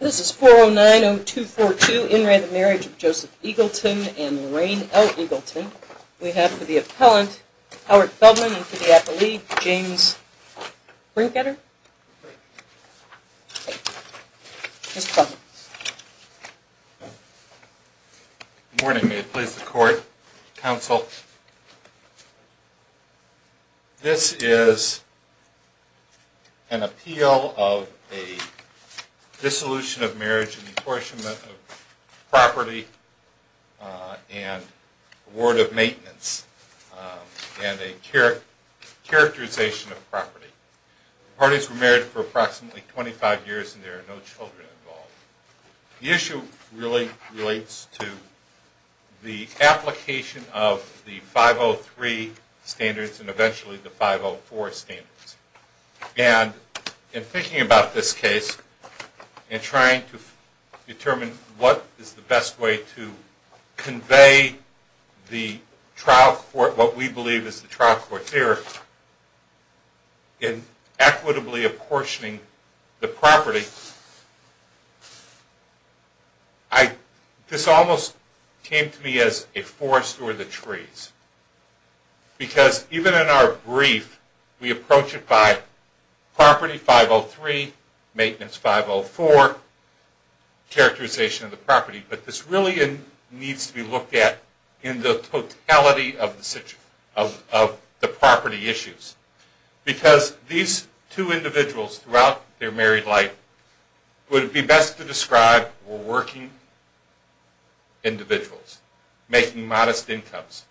This is 4090242, In Re the Marriage of Joseph Eagleton and Lorraine L. Eagleton. We have for the appellant, Howard Feldman, and for the appellee, James Brinketter. Mr. Feldman. Good morning, may it please the court, counsel. This is an appeal of a dissolution of marriage and apportionment of property and award of maintenance and a characterization of property. The parties were married for approximately 25 years and there are no children involved. The issue really relates to the application of the 503 standards and eventually the 504 standards. And in thinking about this case and trying to determine what is the best way to convey the trial court, what we believe is the trial court theory, in equitably apportioning the property This almost came to me as a forest or the trees, because even in our brief, we approach it by property 503, maintenance 504, characterization of the property. But this really needs to be looked at in the totality of the property issues. Because these two individuals throughout their married life would be best to describe working individuals making modest incomes.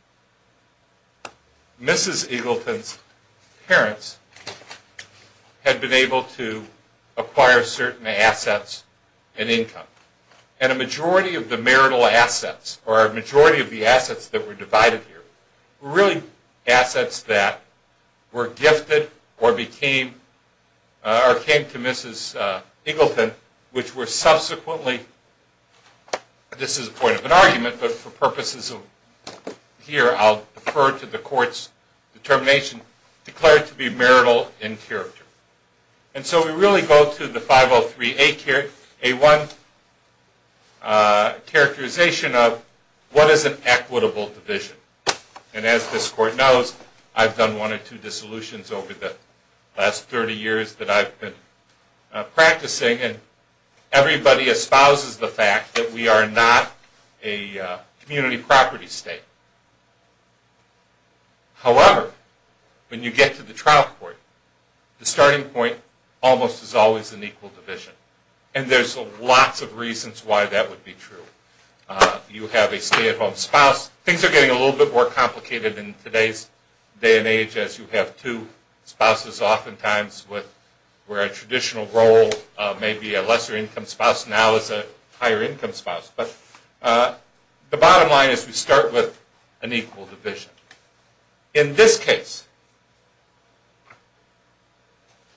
Mrs. Eagleton's parents had been able to acquire certain assets and income. And a majority of the marital assets or a majority of the assets that were divided here were really assets that were gifted or came to Mrs. Eagleton which were subsequently, this is a point of an argument, but for purposes of here I'll defer to the court's determination, declared to be marital in character. And so we really go to the 503A1 characterization of what is an equitable division. And as this court knows, I've done one or two dissolutions over the last 30 years that I've been practicing and everybody espouses the fact that we are not a community property state. However, when you get to the trial court, the starting point almost is always an equal division. And there's lots of reasons why that would be true. You have a stay-at-home spouse. Things are getting a little bit more complicated in today's day and age as you have two spouses oftentimes where a traditional role may be a lesser income spouse now is a higher income spouse. But the bottom line is we start with an equal division. In this case,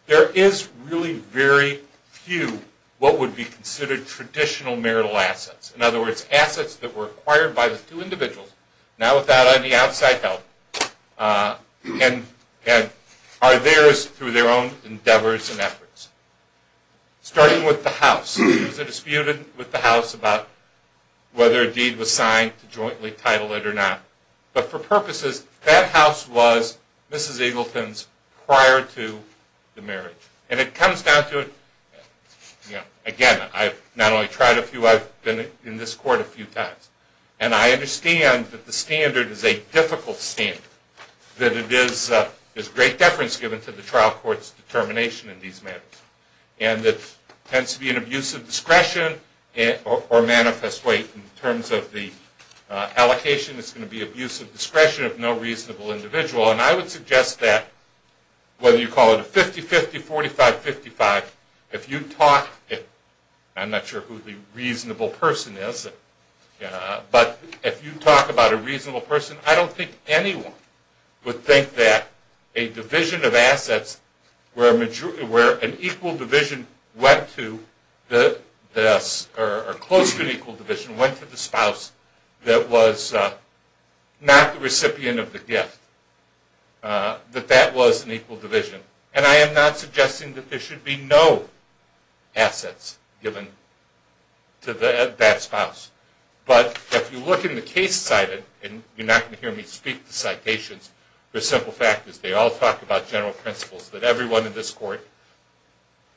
there is really very few what would be considered traditional marital assets. In other words, assets that were acquired by the two individuals now without any outside help and are theirs through their own endeavors and efforts. Starting with the house, there was a dispute with the house about whether a deed was signed to jointly title it or not. But for purposes, that house was Mrs. Eagleton's prior to the marriage. And it comes down to, again, I've not only tried a few, I've been in this court a few times. And I understand that the standard is a difficult standard. That it is great deference given to the trial court's determination in these matters. And it tends to be an abuse of discretion or manifest weight in terms of the allocation. It's going to be abuse of discretion of no reasonable individual. And I would suggest that whether you call it a 50-50, 45-55, if you talk, I'm not sure who the reasonable person is, but if you talk about a reasonable person, I don't think anyone would think that a division of assets where an equal division went to the spouse that was not the recipient of the gift, that that was an equal division. And I am not suggesting that there should be no assets given to that spouse. But if you look in the case cited, and you're not going to hear me in this court,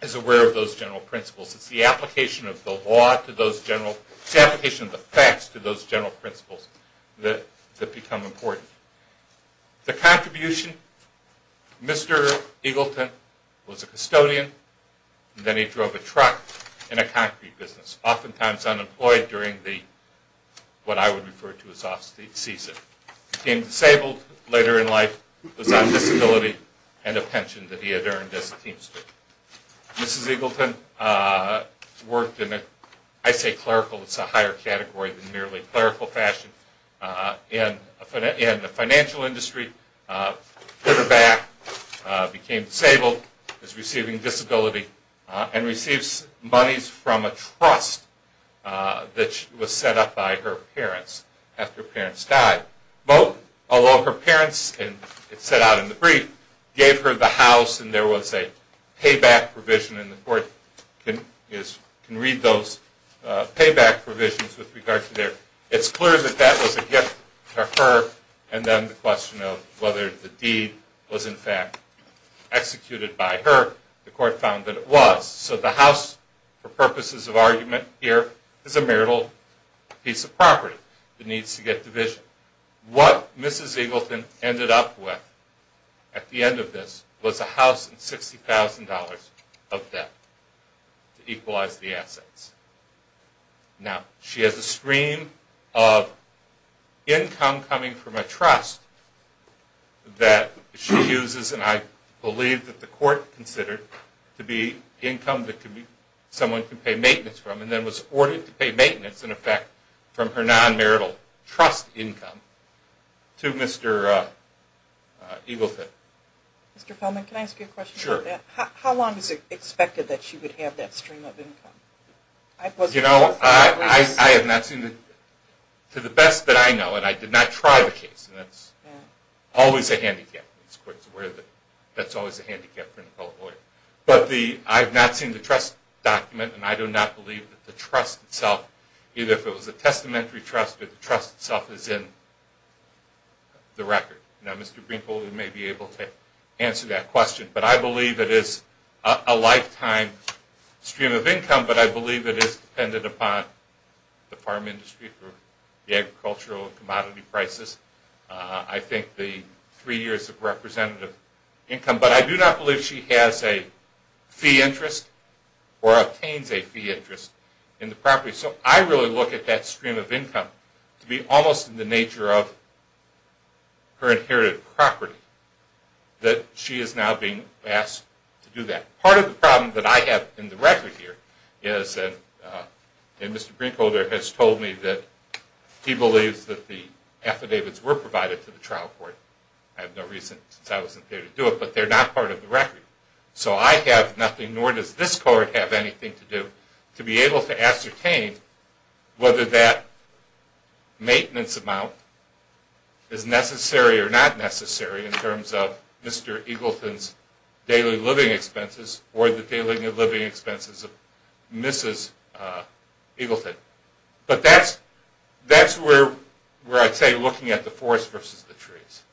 is aware of those general principles. It's the application of the law to those general, it's the application of the facts to those general principles that become important. The contribution, Mr. Eagleton was a custodian, then he drove a truck in a concrete business, oftentimes unemployed during the, what I would refer to as off-season. He became disabled later in life, was on disability, and a pension that he had earned as a teamster. Mrs. Eagleton worked in a, I say clerical, it's a higher category than merely clerical fashion, in the financial industry, put her back, became disabled, is receiving disability, and receives monies from a trust that was set up by her parents after her parents died. Well, although her parents, and it's set out in the brief, gave her the house and there was a payback provision, and the court can read those payback provisions with regard to their, it's clear that that was a gift to her, and then the question of whether the deed was in fact executed by her, the court found that it was. So the house, for purposes of argument here, is a marital piece of property that needs to get division. What Mrs. Eagleton ended up with at the end of this was a house and $60,000 of debt to equalize the assets. Now, she has a stream of income coming from a trust that she uses, and I believe that the court considered to be income that someone could pay maintenance from, and then was ordered to pay maintenance, in effect, from her non-marital trust income to Mr. Eagleton. Mr. Feldman, can I ask you a question about that? Sure. How long is it expected that she would have that stream of income? You know, I have not seen, to the best that I know, and I did not try the case, and that's always a handicap. That's always a handicap for an appellate lawyer. But the, I've not seen the trust document, and I do not believe that the trust itself, either if it was a testamentary trust, that the trust itself is in the record. Now, Mr. Greenpool, you may be able to answer that question, but I believe it is a lifetime stream of income, but I believe it is dependent upon the farm industry for the agricultural commodity prices. I think the three years of representative income, but I do not believe she has a fee interest or obtains a fee interest in the property. So I really look at that stream of income to be almost in the nature of her inherited property, that she is now being asked to do that. Part of the problem that I have in the record here is that, and Mr. Greenpool there has told me that he believes that the affidavits were provided to the trial court. I have no reason since I wasn't there to do it, but they're not part of the record. So I have nothing, nor does this court, have anything to do to be able to ascertain whether that maintenance amount is necessary or not necessary in terms of Mr. Eagleton's daily living expenses or the daily living expenses of Mr. Eagleton. But that's where I'd say looking at the forest versus the trees.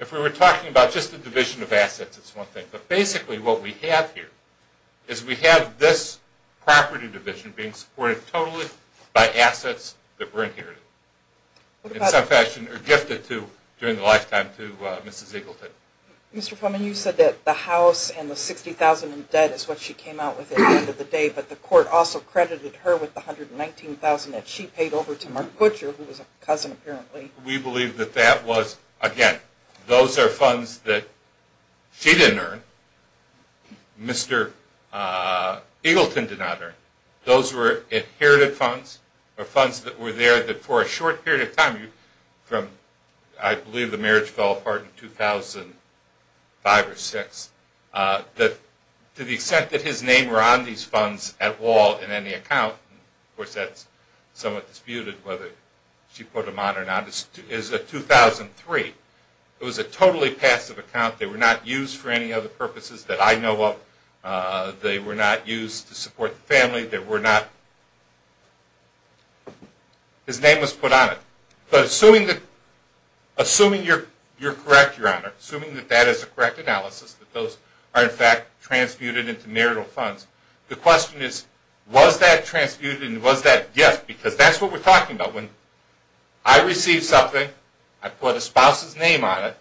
If we were talking about just the division of assets, it's one thing, but basically what we have here is we have this property division being supported totally by assets that were inherited in some fashion or gifted to during the lifetime to Mrs. Eagleton. Mr. Fulman, you said that the court also credited her with the $119,000 that she paid over to Mark Butcher, who was a cousin apparently. We believe that that was, again, those are funds that she didn't earn. Mr. Eagleton did not earn. Those were inherited funds or funds that were there that for a short period of time, from I believe the marriage fell apart in 2005 or 2006, that to the extent that his name were on these funds at all in any account, of course that's somewhat disputed whether she put them on or not, is a 2003. It was a totally passive account. They were not used for any other purposes that I know of. They were not used to support the family. His name was put on it. But assuming you're correct, Your Honor, assuming that that is a correct analysis, that those are in fact transmuted into marital funds, the question is, was that transmuted and was that gift? Because that's what we're talking about. When I receive something, I put a spouse's name on it,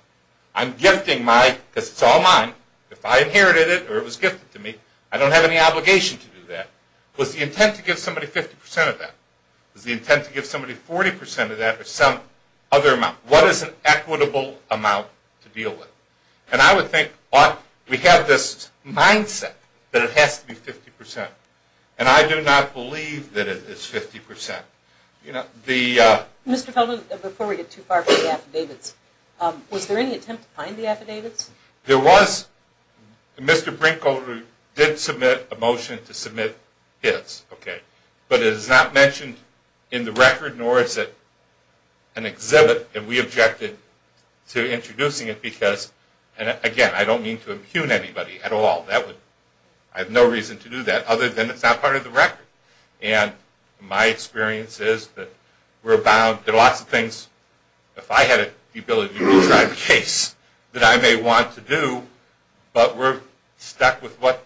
I'm gifting my, because it's all mine, if I inherited it or it was gifted to me, I don't have any obligation to do that. Was the intent to give somebody 50% of that? Was the intent to give somebody 40% of that or some other amount? What is an equitable amount to deal with? And I would we have this mindset that it has to be 50%. And I do not believe that it is 50%. Mr. Feldman, before we get too far from the affidavits, was there any attempt to find the affidavits? There was. Mr. Brinkholder did submit a motion to submit his. But it is not mentioned in the record, nor is it an exhibit, and we objected to introducing it because, again, I don't mean to impugn anybody at all. I have no reason to do that other than it's not part of the record. And my experience is that we're bound, there are lots of things, if I had the ability to try the case, that I may want to do, but we're stuck with what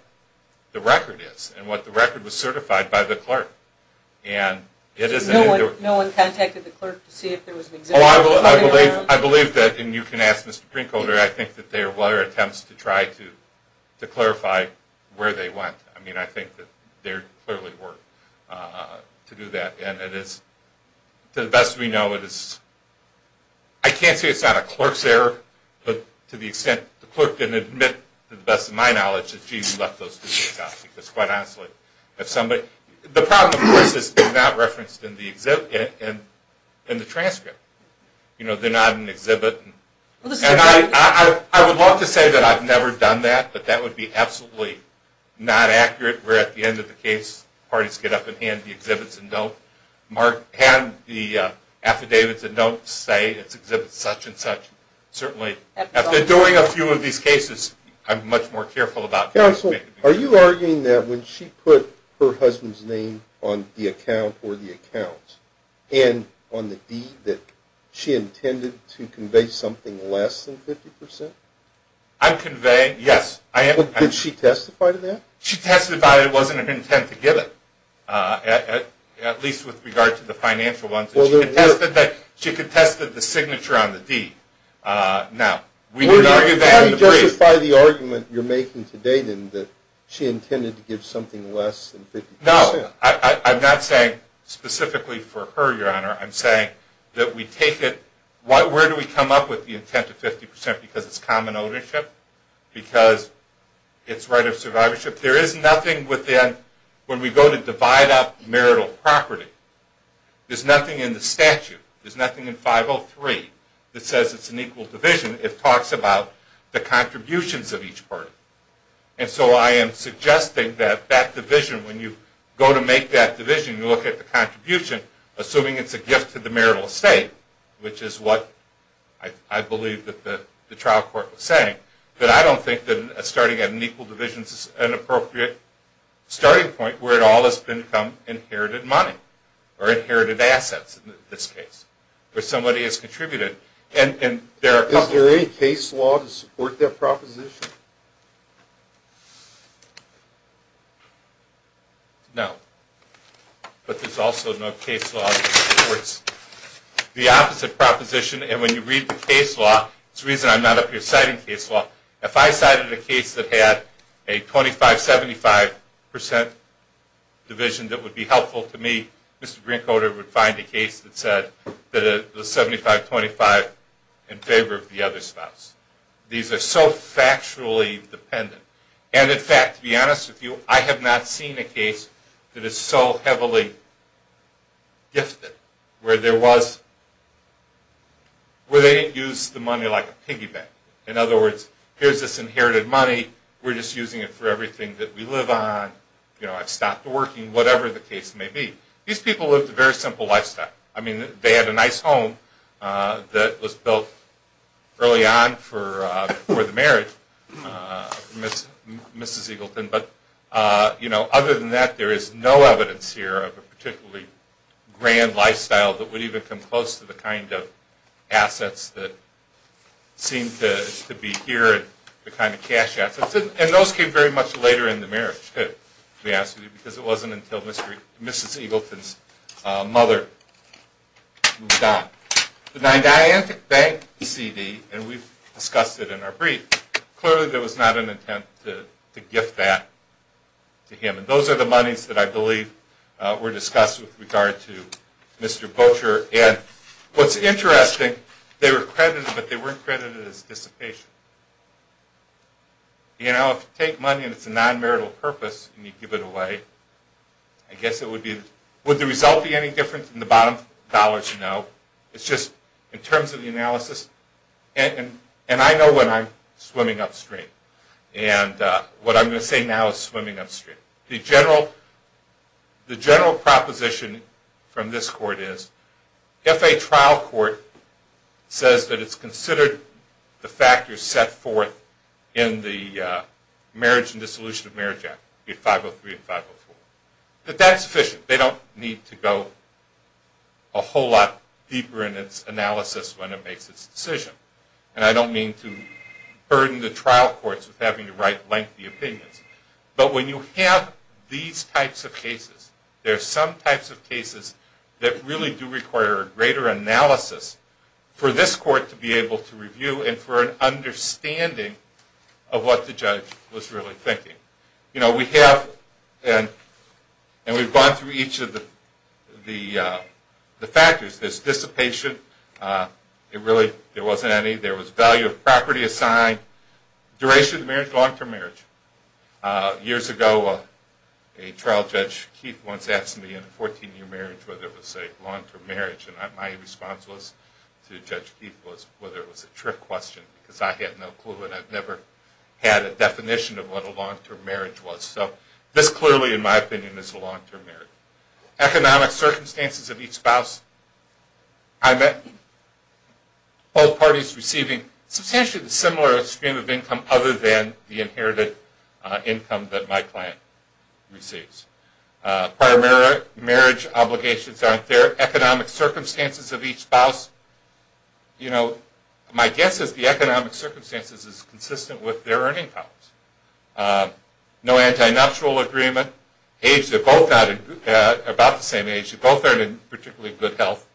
the record is and what the record was certified by the clerk. And it is. No one contacted the clerk. If you can ask Mr. Brinkholder, I think that there were attempts to try to clarify where they went. I mean, I think that there clearly were to do that. And it is, to the best we know, it is, I can't say it's not a clerk's error, but to the extent the clerk didn't admit, to the best of my knowledge, that, gee, we left those things out. Because quite honestly, if somebody, the problem, of course, is it's not referenced in the exhibit, in the transcript. You know, they're not in the exhibit. And I would love to say that I've never done that, but that would be absolutely not accurate, where at the end of the case, parties get up and hand the exhibits and note, hand the affidavits and notes, say it's exhibit such and such. Certainly, after doing a few of these cases, I'm much more careful about that. Counsel, are you arguing that when she put her husband's name on the account or the accounts, and on the deed, that she intended to convey something less than 50 percent? I'm conveying, yes, I am. Did she testify to that? She testified it wasn't her intent to give it, at least with regard to the financial ones. She contested the signature on the deed. Now, we could argue that in the brief. How do you justify the argument you're making today, then, that she intended to give something less than 50 percent? No, I'm not saying specifically for her, Your Honor. I'm saying that we take it, where do we come up with the intent of 50 percent? Because it's common ownership? Because it's right of survivorship? There is nothing within, when we go to divide up marital property, there's nothing in the statute, there's nothing in 503 that says it's an equal division. It talks about the contributions of each party. And so I am suggesting that that division, when you go to make that division, you look at the contribution, assuming it's a gift to the marital estate, which is what I believe that the trial court was saying. But I don't think that starting at an equal division is an appropriate starting point where it all has become inherited money, or inherited assets, in this case, where somebody has contributed. Is there any case law to support that proposition? No. But there's also no case law that supports the opposite proposition. And when you read the case law, it's the reason I'm not up here citing case law. If I cited a case that had a 25-75 percent division that would be helpful to me, Mr. Greencoder would find a case that said that the 75-25 in favor of the other spouse. These are so factually dependent. And in fact, to be honest with you, I have not seen a case that is so heavily gifted where there was, where they didn't use the money like a piggy bank. In other words, here's this inherited money, we're just using it for everything that we live on, you know, I've stopped working, whatever the case may be. These people lived a very simple lifestyle. I mean, they had a nice home that was built early on for the marriage of Mrs. Eagleton. But, you know, other than that, there is no evidence here of a particularly grand lifestyle that would even come close to the kind of assets that seem to be here, the kind of cash assets. And those came very much later in the marriage, to be honest with you, because it wasn't until Mrs. Eagleton's mother moved on. The Nidiantic Bank CD, and we've discussed it in our brief, clearly there was not an intent to gift that to him. And those are the monies that I believe were discussed with regard to Mr. Boettcher. And what's interesting, they were credited, but they weren't credited as dissipation. You know, if you take money and it's a non-marital purpose, and you give it away, I guess it would be, would the result be any different from the bottom dollars? No. It's just, in terms of the analysis, and I know when I'm swimming upstream. And what I'm going to say now is swimming upstream. The general proposition from this court is, if a trial court says that it's considered the factors set forth in the Marriage and Dissolution of Marriage Act, 503 and 504, that that's sufficient. They don't need to go a whole lot deeper in its analysis when it makes its decision. And I don't mean to burden the trial courts with having to write lengthy opinions. But when you have these types of cases, there are some types of cases that really do require a greater analysis for this court to be able to review, and for an understanding of what the judge was really thinking. You know, we have, and we've gone through each of the factors. There's dissipation. It really, there wasn't any. There was value of property assigned, duration of marriage, long-term marriage. Years ago, a trial judge, Keith, once asked me in a 14-year marriage whether it was a long-term marriage. My response was, to Judge Keith, was whether it was a trick question. Because I had no clue, and I've never had a definition of what a long-term marriage was. So this clearly, in my opinion, is a long-term marriage. Economic circumstances of each spouse. I met both parties receiving substantially the similar stream of income other than the inherited income that my client receives. Prior marriage obligations aren't there. Economic circumstances of each spouse. You know, my guess is the economic circumstances is consistent with their earning powers. No anti-nuptial agreement. Aged, they're both about the same age. They both are in particularly good health.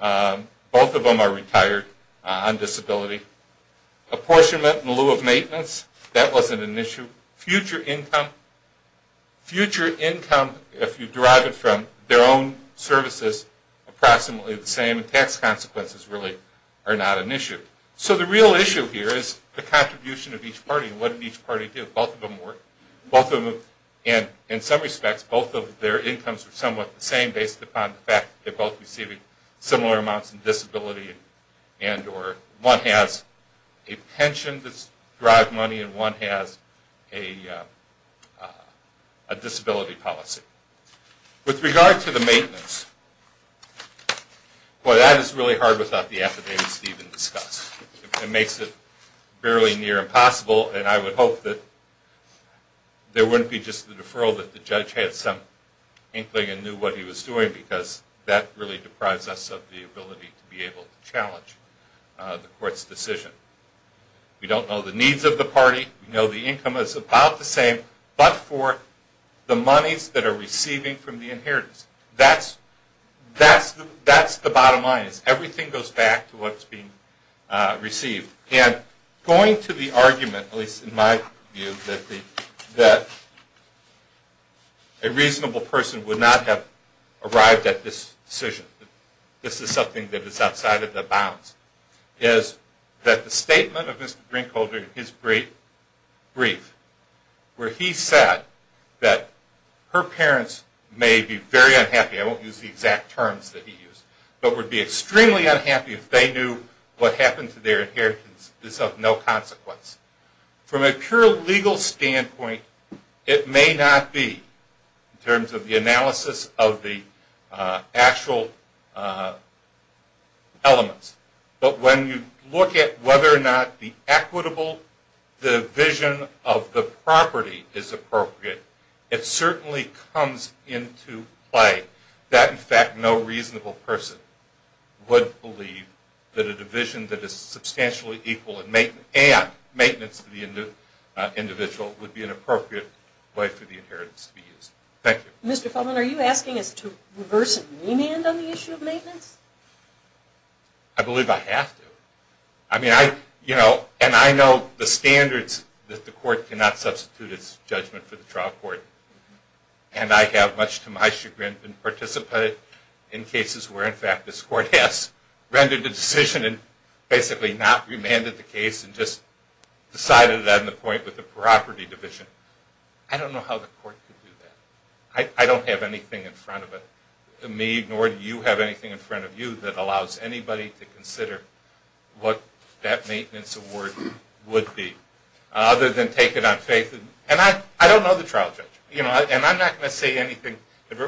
Both of them are retired on disability. Apportionment in lieu of maintenance. That wasn't an issue. Future income. Future income, if you derive it from their own services, approximately the same. Tax consequences really are not an issue. So the real issue here is the contribution of each party. What did each party do? Both of them work. Both of them, and in some respects, both of their incomes are somewhat the same based upon the fact that they're both receiving similar amounts of disability. One has a pension that's derived money, and one has a disability policy. With regard to the maintenance, well, that is really hard without the affidavits to even discuss. It makes it barely near impossible, and I would hope that there wouldn't be just the deferral that the judge had some inkling and knew what he was doing because that really deprives us of the ability to be able to challenge the court's decision. We don't know the needs of the party. We know the income is about the same, but for the monies that are receiving from the inheritance. That's the bottom line is everything goes back to what's being received. And going to the argument, at least in my view, that a reasonable person would not have arrived at this decision, this is something that is outside of the bounds, is that the statement of Mr. Drinkholder in his brief where he said that her parents may be very unhappy, I won't use the exact terms that he used, but would be extremely unhappy if they knew what happened to their inheritance is of no consequence. From a pure legal standpoint, it may not be in terms of the analysis of the actual elements. But when you look at whether or not the equitable division of the property is appropriate, it certainly comes into play that, in fact, no reasonable person would believe that a division that is substantially equal and maintenance to the individual would be an appropriate way for the inheritance to be used. Thank you. Mr. Feldman, are you asking us to reverse and remand on the issue of maintenance? I believe I have to. I mean, I, you know, and I know the standards that the court cannot substitute its judgment for the trial court. And I have, much to my chagrin, been participated in cases where, in fact, this court has rendered a decision and basically not remanded the case and just decided on the point with the property division. I don't know how the court could do that. I don't have anything in front of me, nor do you have anything in front of you, that allows anybody to consider what that maintenance award would be, other than take it on faith. And I don't know the trial judge. You know, and I'm not going to say anything.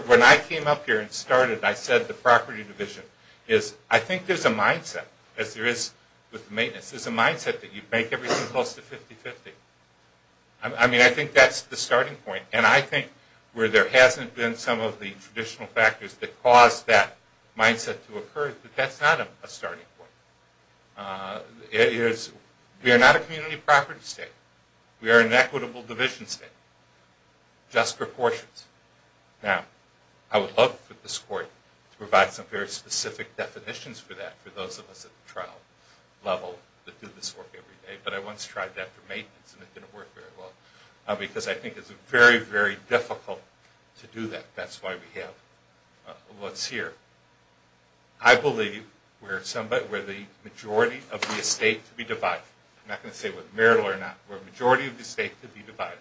When I came up here and started, I said the property division is, I think there's a mindset, as there is with maintenance, there's a mindset that you make everything close to 50-50. I mean, I think that's the starting point. And I think where there hasn't been some of the traditional factors that caused that mindset to occur, but that's not a starting point. We are not a community property state. We are an equitable division state, just proportions. Now, I would love for this court to provide some very specific definitions for that, for those of us at the trial level that do this work every day. But I once tried that for maintenance, and it didn't work very well, because I think it's very, very difficult to do that. That's why we have what's here. I believe where somebody, where the majority of the estate to be divided, I'm not going to say whether marital or not, where the majority of the estate to be divided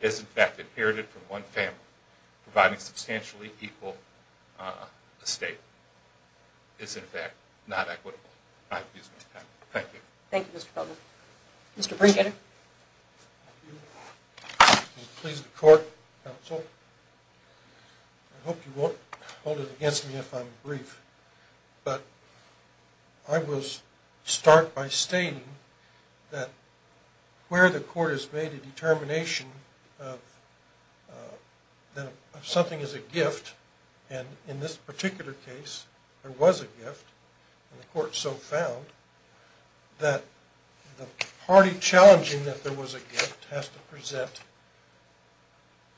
is in fact inherited from one family, providing substantially equal estate, is in fact not equitable. I've used my time. Thank you. Thank you, Mr. Feldman. Mr. Brinkett. Thank you. Will you please, the court, counsel. I hope you won't hold it against me if I'm brief. But I will start by stating that where the court has made a determination of something as a gift, and in this particular case, there was a gift, and the court so found, that the party challenging that there was a gift has to present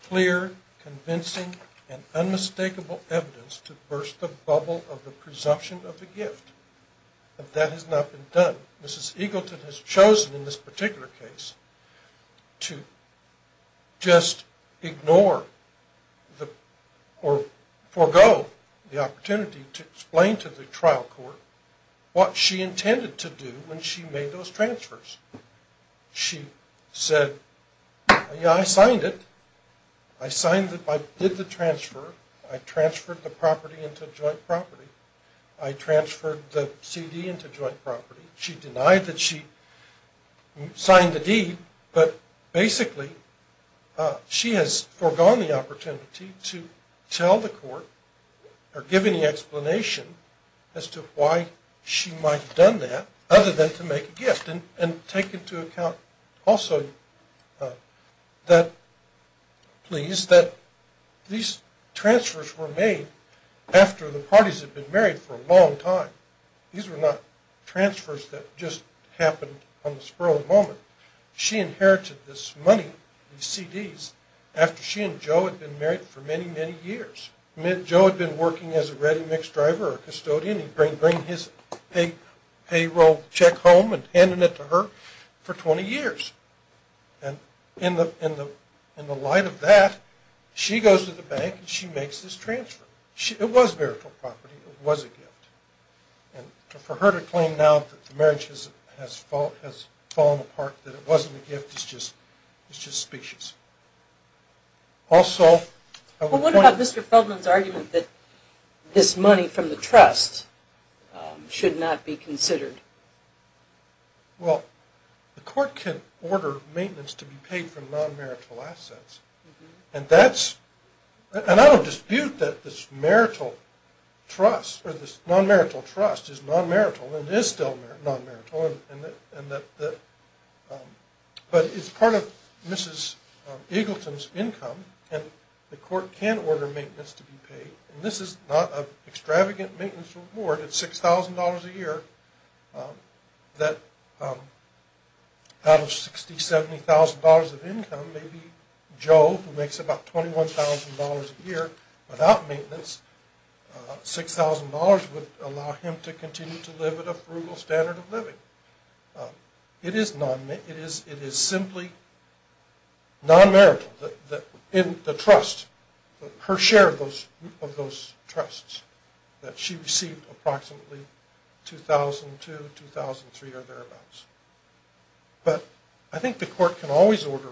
clear, convincing, and unmistakable evidence to burst the bubble of the presumption of the gift. But that has not been done. Mrs. Eagleton has chosen in this particular case to just ignore or forego the opportunity to explain to the trial court what she intended to do when she made those transfers. She said, yeah, I signed it. I signed it. I did the transfer. I transferred the property into joint property. I transferred the CD into joint property. She denied that she signed the deed. But basically, she has foregone the opportunity to tell the court or give any explanation as to why she might have done that other than to make a gift and take into account also that, please, that these transfers were made after the parties had been married for a long time. These were not transfers that just happened on the spur of the moment. She inherited this money, these CDs, after she and Joe had been married for many, many years. Joe had been working as a ready mix driver or custodian. He'd bring his payroll check home and handing it to her for 20 years. And in the light of that, she goes to the bank and she makes this transfer. It was marital property. It was a gift. And for her to claim now that the marriage has fallen apart, that it wasn't a gift, it's just specious. Well, what about Mr. Feldman's argument that this money from the trust should not be considered? Well, the court can order maintenance to be paid for non-marital assets. And I don't dispute that this marital trust or this non-marital trust is non-marital and is still non-marital. But it's part of Mrs. Eagleton's income and the court can order maintenance to be paid. And this is not an extravagant maintenance reward. It's $6,000 a year that out of $60,000, $70,000 of income, maybe Joe, who makes about $21,000 a year without maintenance, $6,000 would allow him to continue to live at a frugal standard of living. It is simply non-marital in the trust, her share of those trusts that she received approximately $2,000 to $2,300 or thereabouts. But I think the court can always order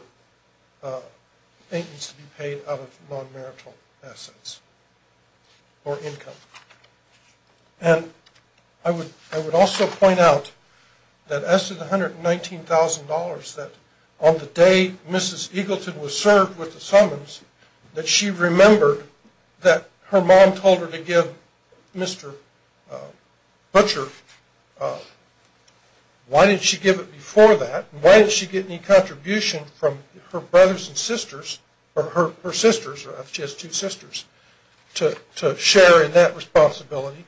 maintenance to be paid out of non-marital assets or income. And I would also point out that as to the $119,000 that on the day Mrs. Eagleton was served with the summons that she remembered that her mom told her to give Mr. Butcher, why didn't she give it before that? Why didn't she get any contribution from her brothers and sisters or her sisters, she has two sisters, to share in that responsibility?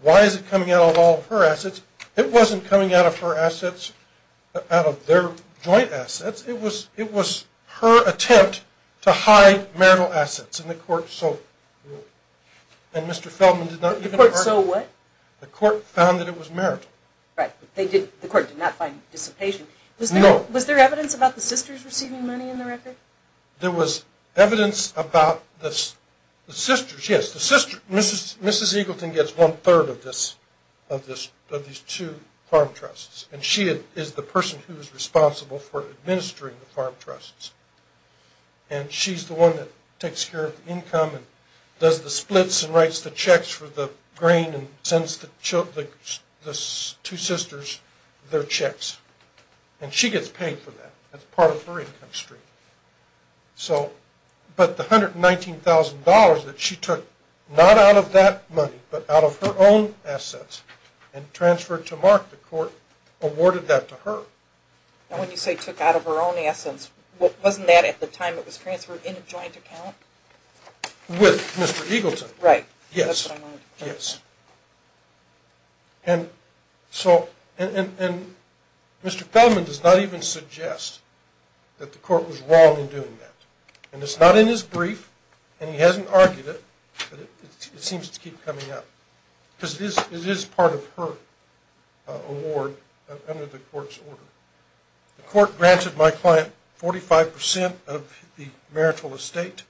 Why is it coming out of all of her assets? It wasn't coming out of her assets, out of their joint assets. It was her attempt to hide marital assets and the court so ruled. And Mr. Feldman did not... The court so what? The court found that it was marital. Right, the court did not find dissipation. Was there evidence about the sisters receiving money in the record? There was evidence about the sisters. Yes, Mrs. Eagleton gets one third of these two farm trusts and she is the person who is responsible for administering the farm trusts. And she's the one that takes care of the income and does the splits and writes the checks for the grain and sends the two sisters their checks. And she gets paid for that. That's part of her income stream. So, but the $119,000 that she took, not out of that money, but out of her own assets and transferred to Mark, the court awarded that to her. And when you say took out of her own assets, wasn't that at the time it was transferred in a joint account? With Mr. Eagleton. Right. Yes. And so, and Mr. Feldman does not even suggest that the court was wrong in doing that. And it's not in his brief and he hasn't argued it, but it seems to keep coming up. Because it is part of her award under the court's order. The court granted my client 45% of the marital estate.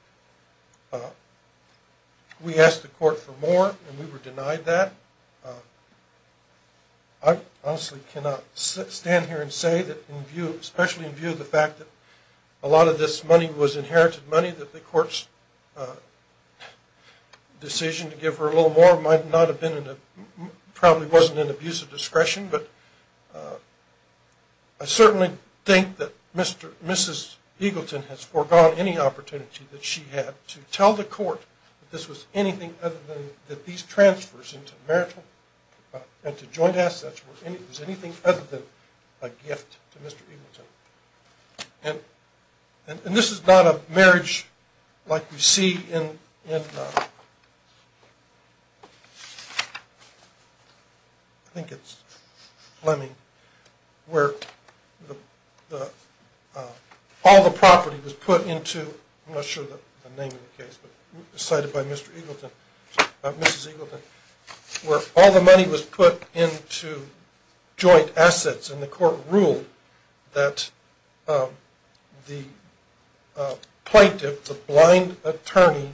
We asked the court for more and we were denied that. I honestly cannot stand here and say that in view, especially in view of the fact that a lot of this money was inherited money that the court's decision to give her a little more might not have been in a, probably wasn't an abuse of discretion. But I certainly think that Mrs. Eagleton has forgone any opportunity that she had to tell the court that this was anything other than that these transfers into marital and to joint assets was anything other than a gift to Mr. Eagleton. And this is not a marriage like we see in, I think it's Fleming, where all the property was put into, I'm not sure the name of the case, but cited by Mr. Eagleton, Mrs. Eagleton, where all the money was put into joint assets and the court ruled that the plaintiff, the blind attorney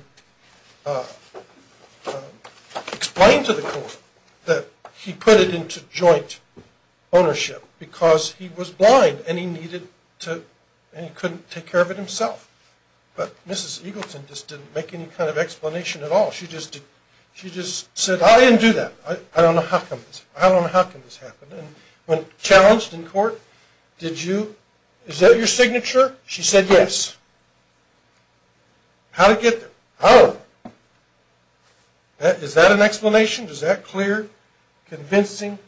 explained to the court that he put it into joint ownership because he was blind and he needed to, and he couldn't take care of it himself. But Mrs. Eagleton just didn't make any kind of explanation at all. She just said, I didn't do that. I don't know how come this, I don't know how come this happened. And when challenged in court, did you, is that your signature? She said, yes. How'd it get there? How? Is that an explanation? Is that clear, convincing,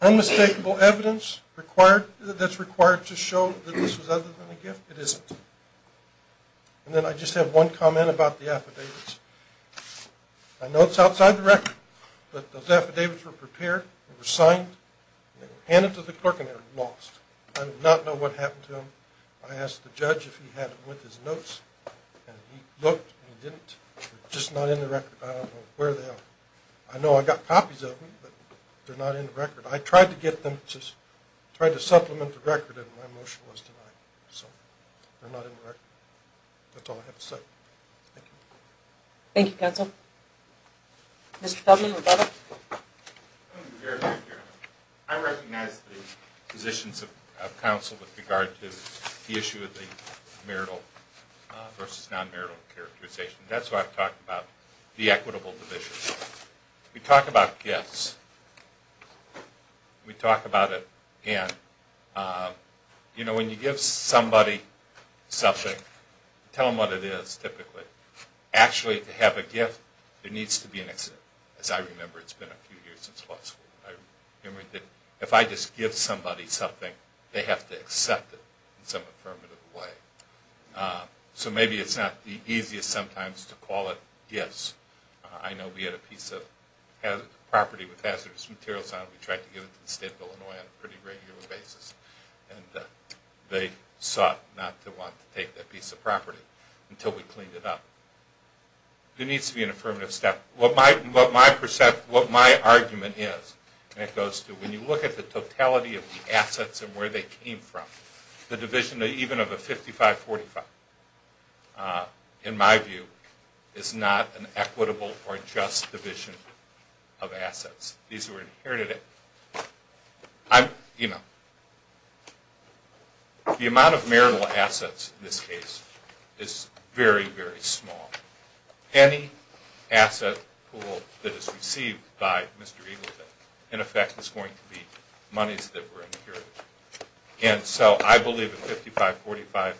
unmistakable evidence required, that's required to show that this was other than a gift? It isn't. And then I just have one comment about the affidavits. I know it's outside the record, but those affidavits were prepared, they were signed, and they were handed to the clerk, and they were lost. I do not know what happened to them. I asked the judge if he had them with his notes, and he looked and he didn't. They're just not in the record. I don't know where they are. I know I got copies of them, but they're not in the record. I tried to get them, just tried to supplement the record, and my motion was denied. So they're not in the record. That's all I have to say. Thank you. Thank you, counsel. Mr. Feldman, Rebecca? I recognize the positions of counsel with regard to the issue of the marital versus non-marital characterization. That's why I've talked about the equitable division. We talk about gifts. We talk about it again. You know, when you give somebody something, tell them what it is, typically. Actually, to have a gift, there needs to be an accident. As I remember, it's been a few years since law school. I remember that if I just give somebody something, they have to accept it in some affirmative way. So maybe it's not the easiest sometimes to call it gifts. I know we had a piece of property with hazardous materials on it. We tried to give it to the state of Illinois on a pretty regular basis, and they sought not to want to take that piece of property until we cleaned it up. There needs to be an affirmative step. What my argument is, and it goes to when you look at the totality of the assets and where they came from, the division even of a 55-45, in my view, is not an equitable or just division of assets. These were inherited. The amount of marital assets in this case is very, very small. Any asset pool that is received by Mr. Eagleton, in effect, is going to be monies that were inherited. So I believe a 55-45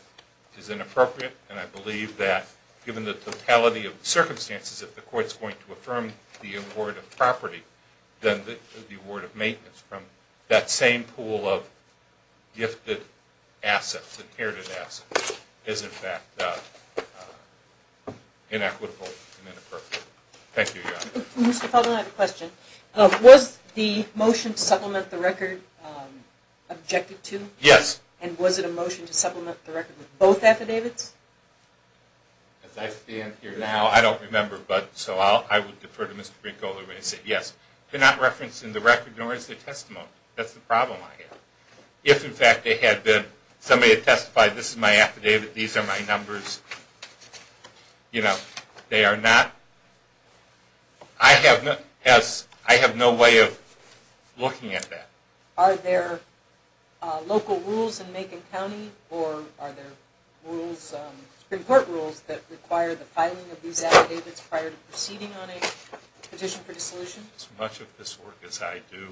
is inappropriate, and I believe that, given the totality of the circumstances, if the court's going to affirm the award of property, then the award of maintenance from that same pool of gifted assets, inherited assets, is, in fact, inequitable and inappropriate. Thank you, Your Honor. Mr. Felden, I have a question. Was the motion to supplement the record objected to? Yes. And was it a motion to supplement the record with both affidavits? As I stand here now, I don't remember, but so I would defer to Mr. Brinko to say yes. They're not referencing the record, nor is their testimony. That's the problem I have. If, in fact, somebody had testified, this is my affidavit, these are my numbers, they are not. I have no way of looking at that. Are there local rules in Macon County, or are there Supreme Court rules that require the filing of these affidavits prior to proceeding on a petition for dissolution? As much of this work as I do,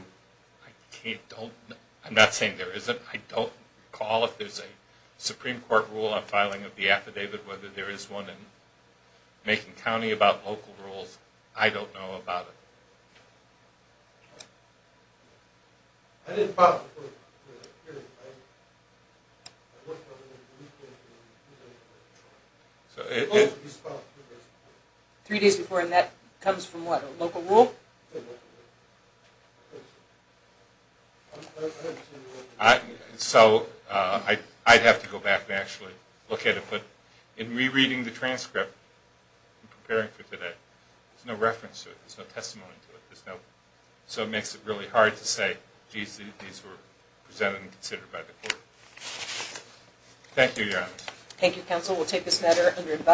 I can't, don't, I'm not saying there isn't. I don't recall if there's a Supreme Court rule on filing of the affidavit, whether there is one in Macon County about local rules. I don't know about it. I didn't file it before. Three days before, and that comes from what, a local rule? I haven't seen the local rule. So I'd have to go back and actually look at it. But in rereading the transcript I'm preparing for today, there's no reference to it. There's no testimony to it. There's no, so it makes it really hard to say, geez, these were presented and considered by the court. Thank you, Your Honor. Thank you, counsel. We'll take this matter under invite.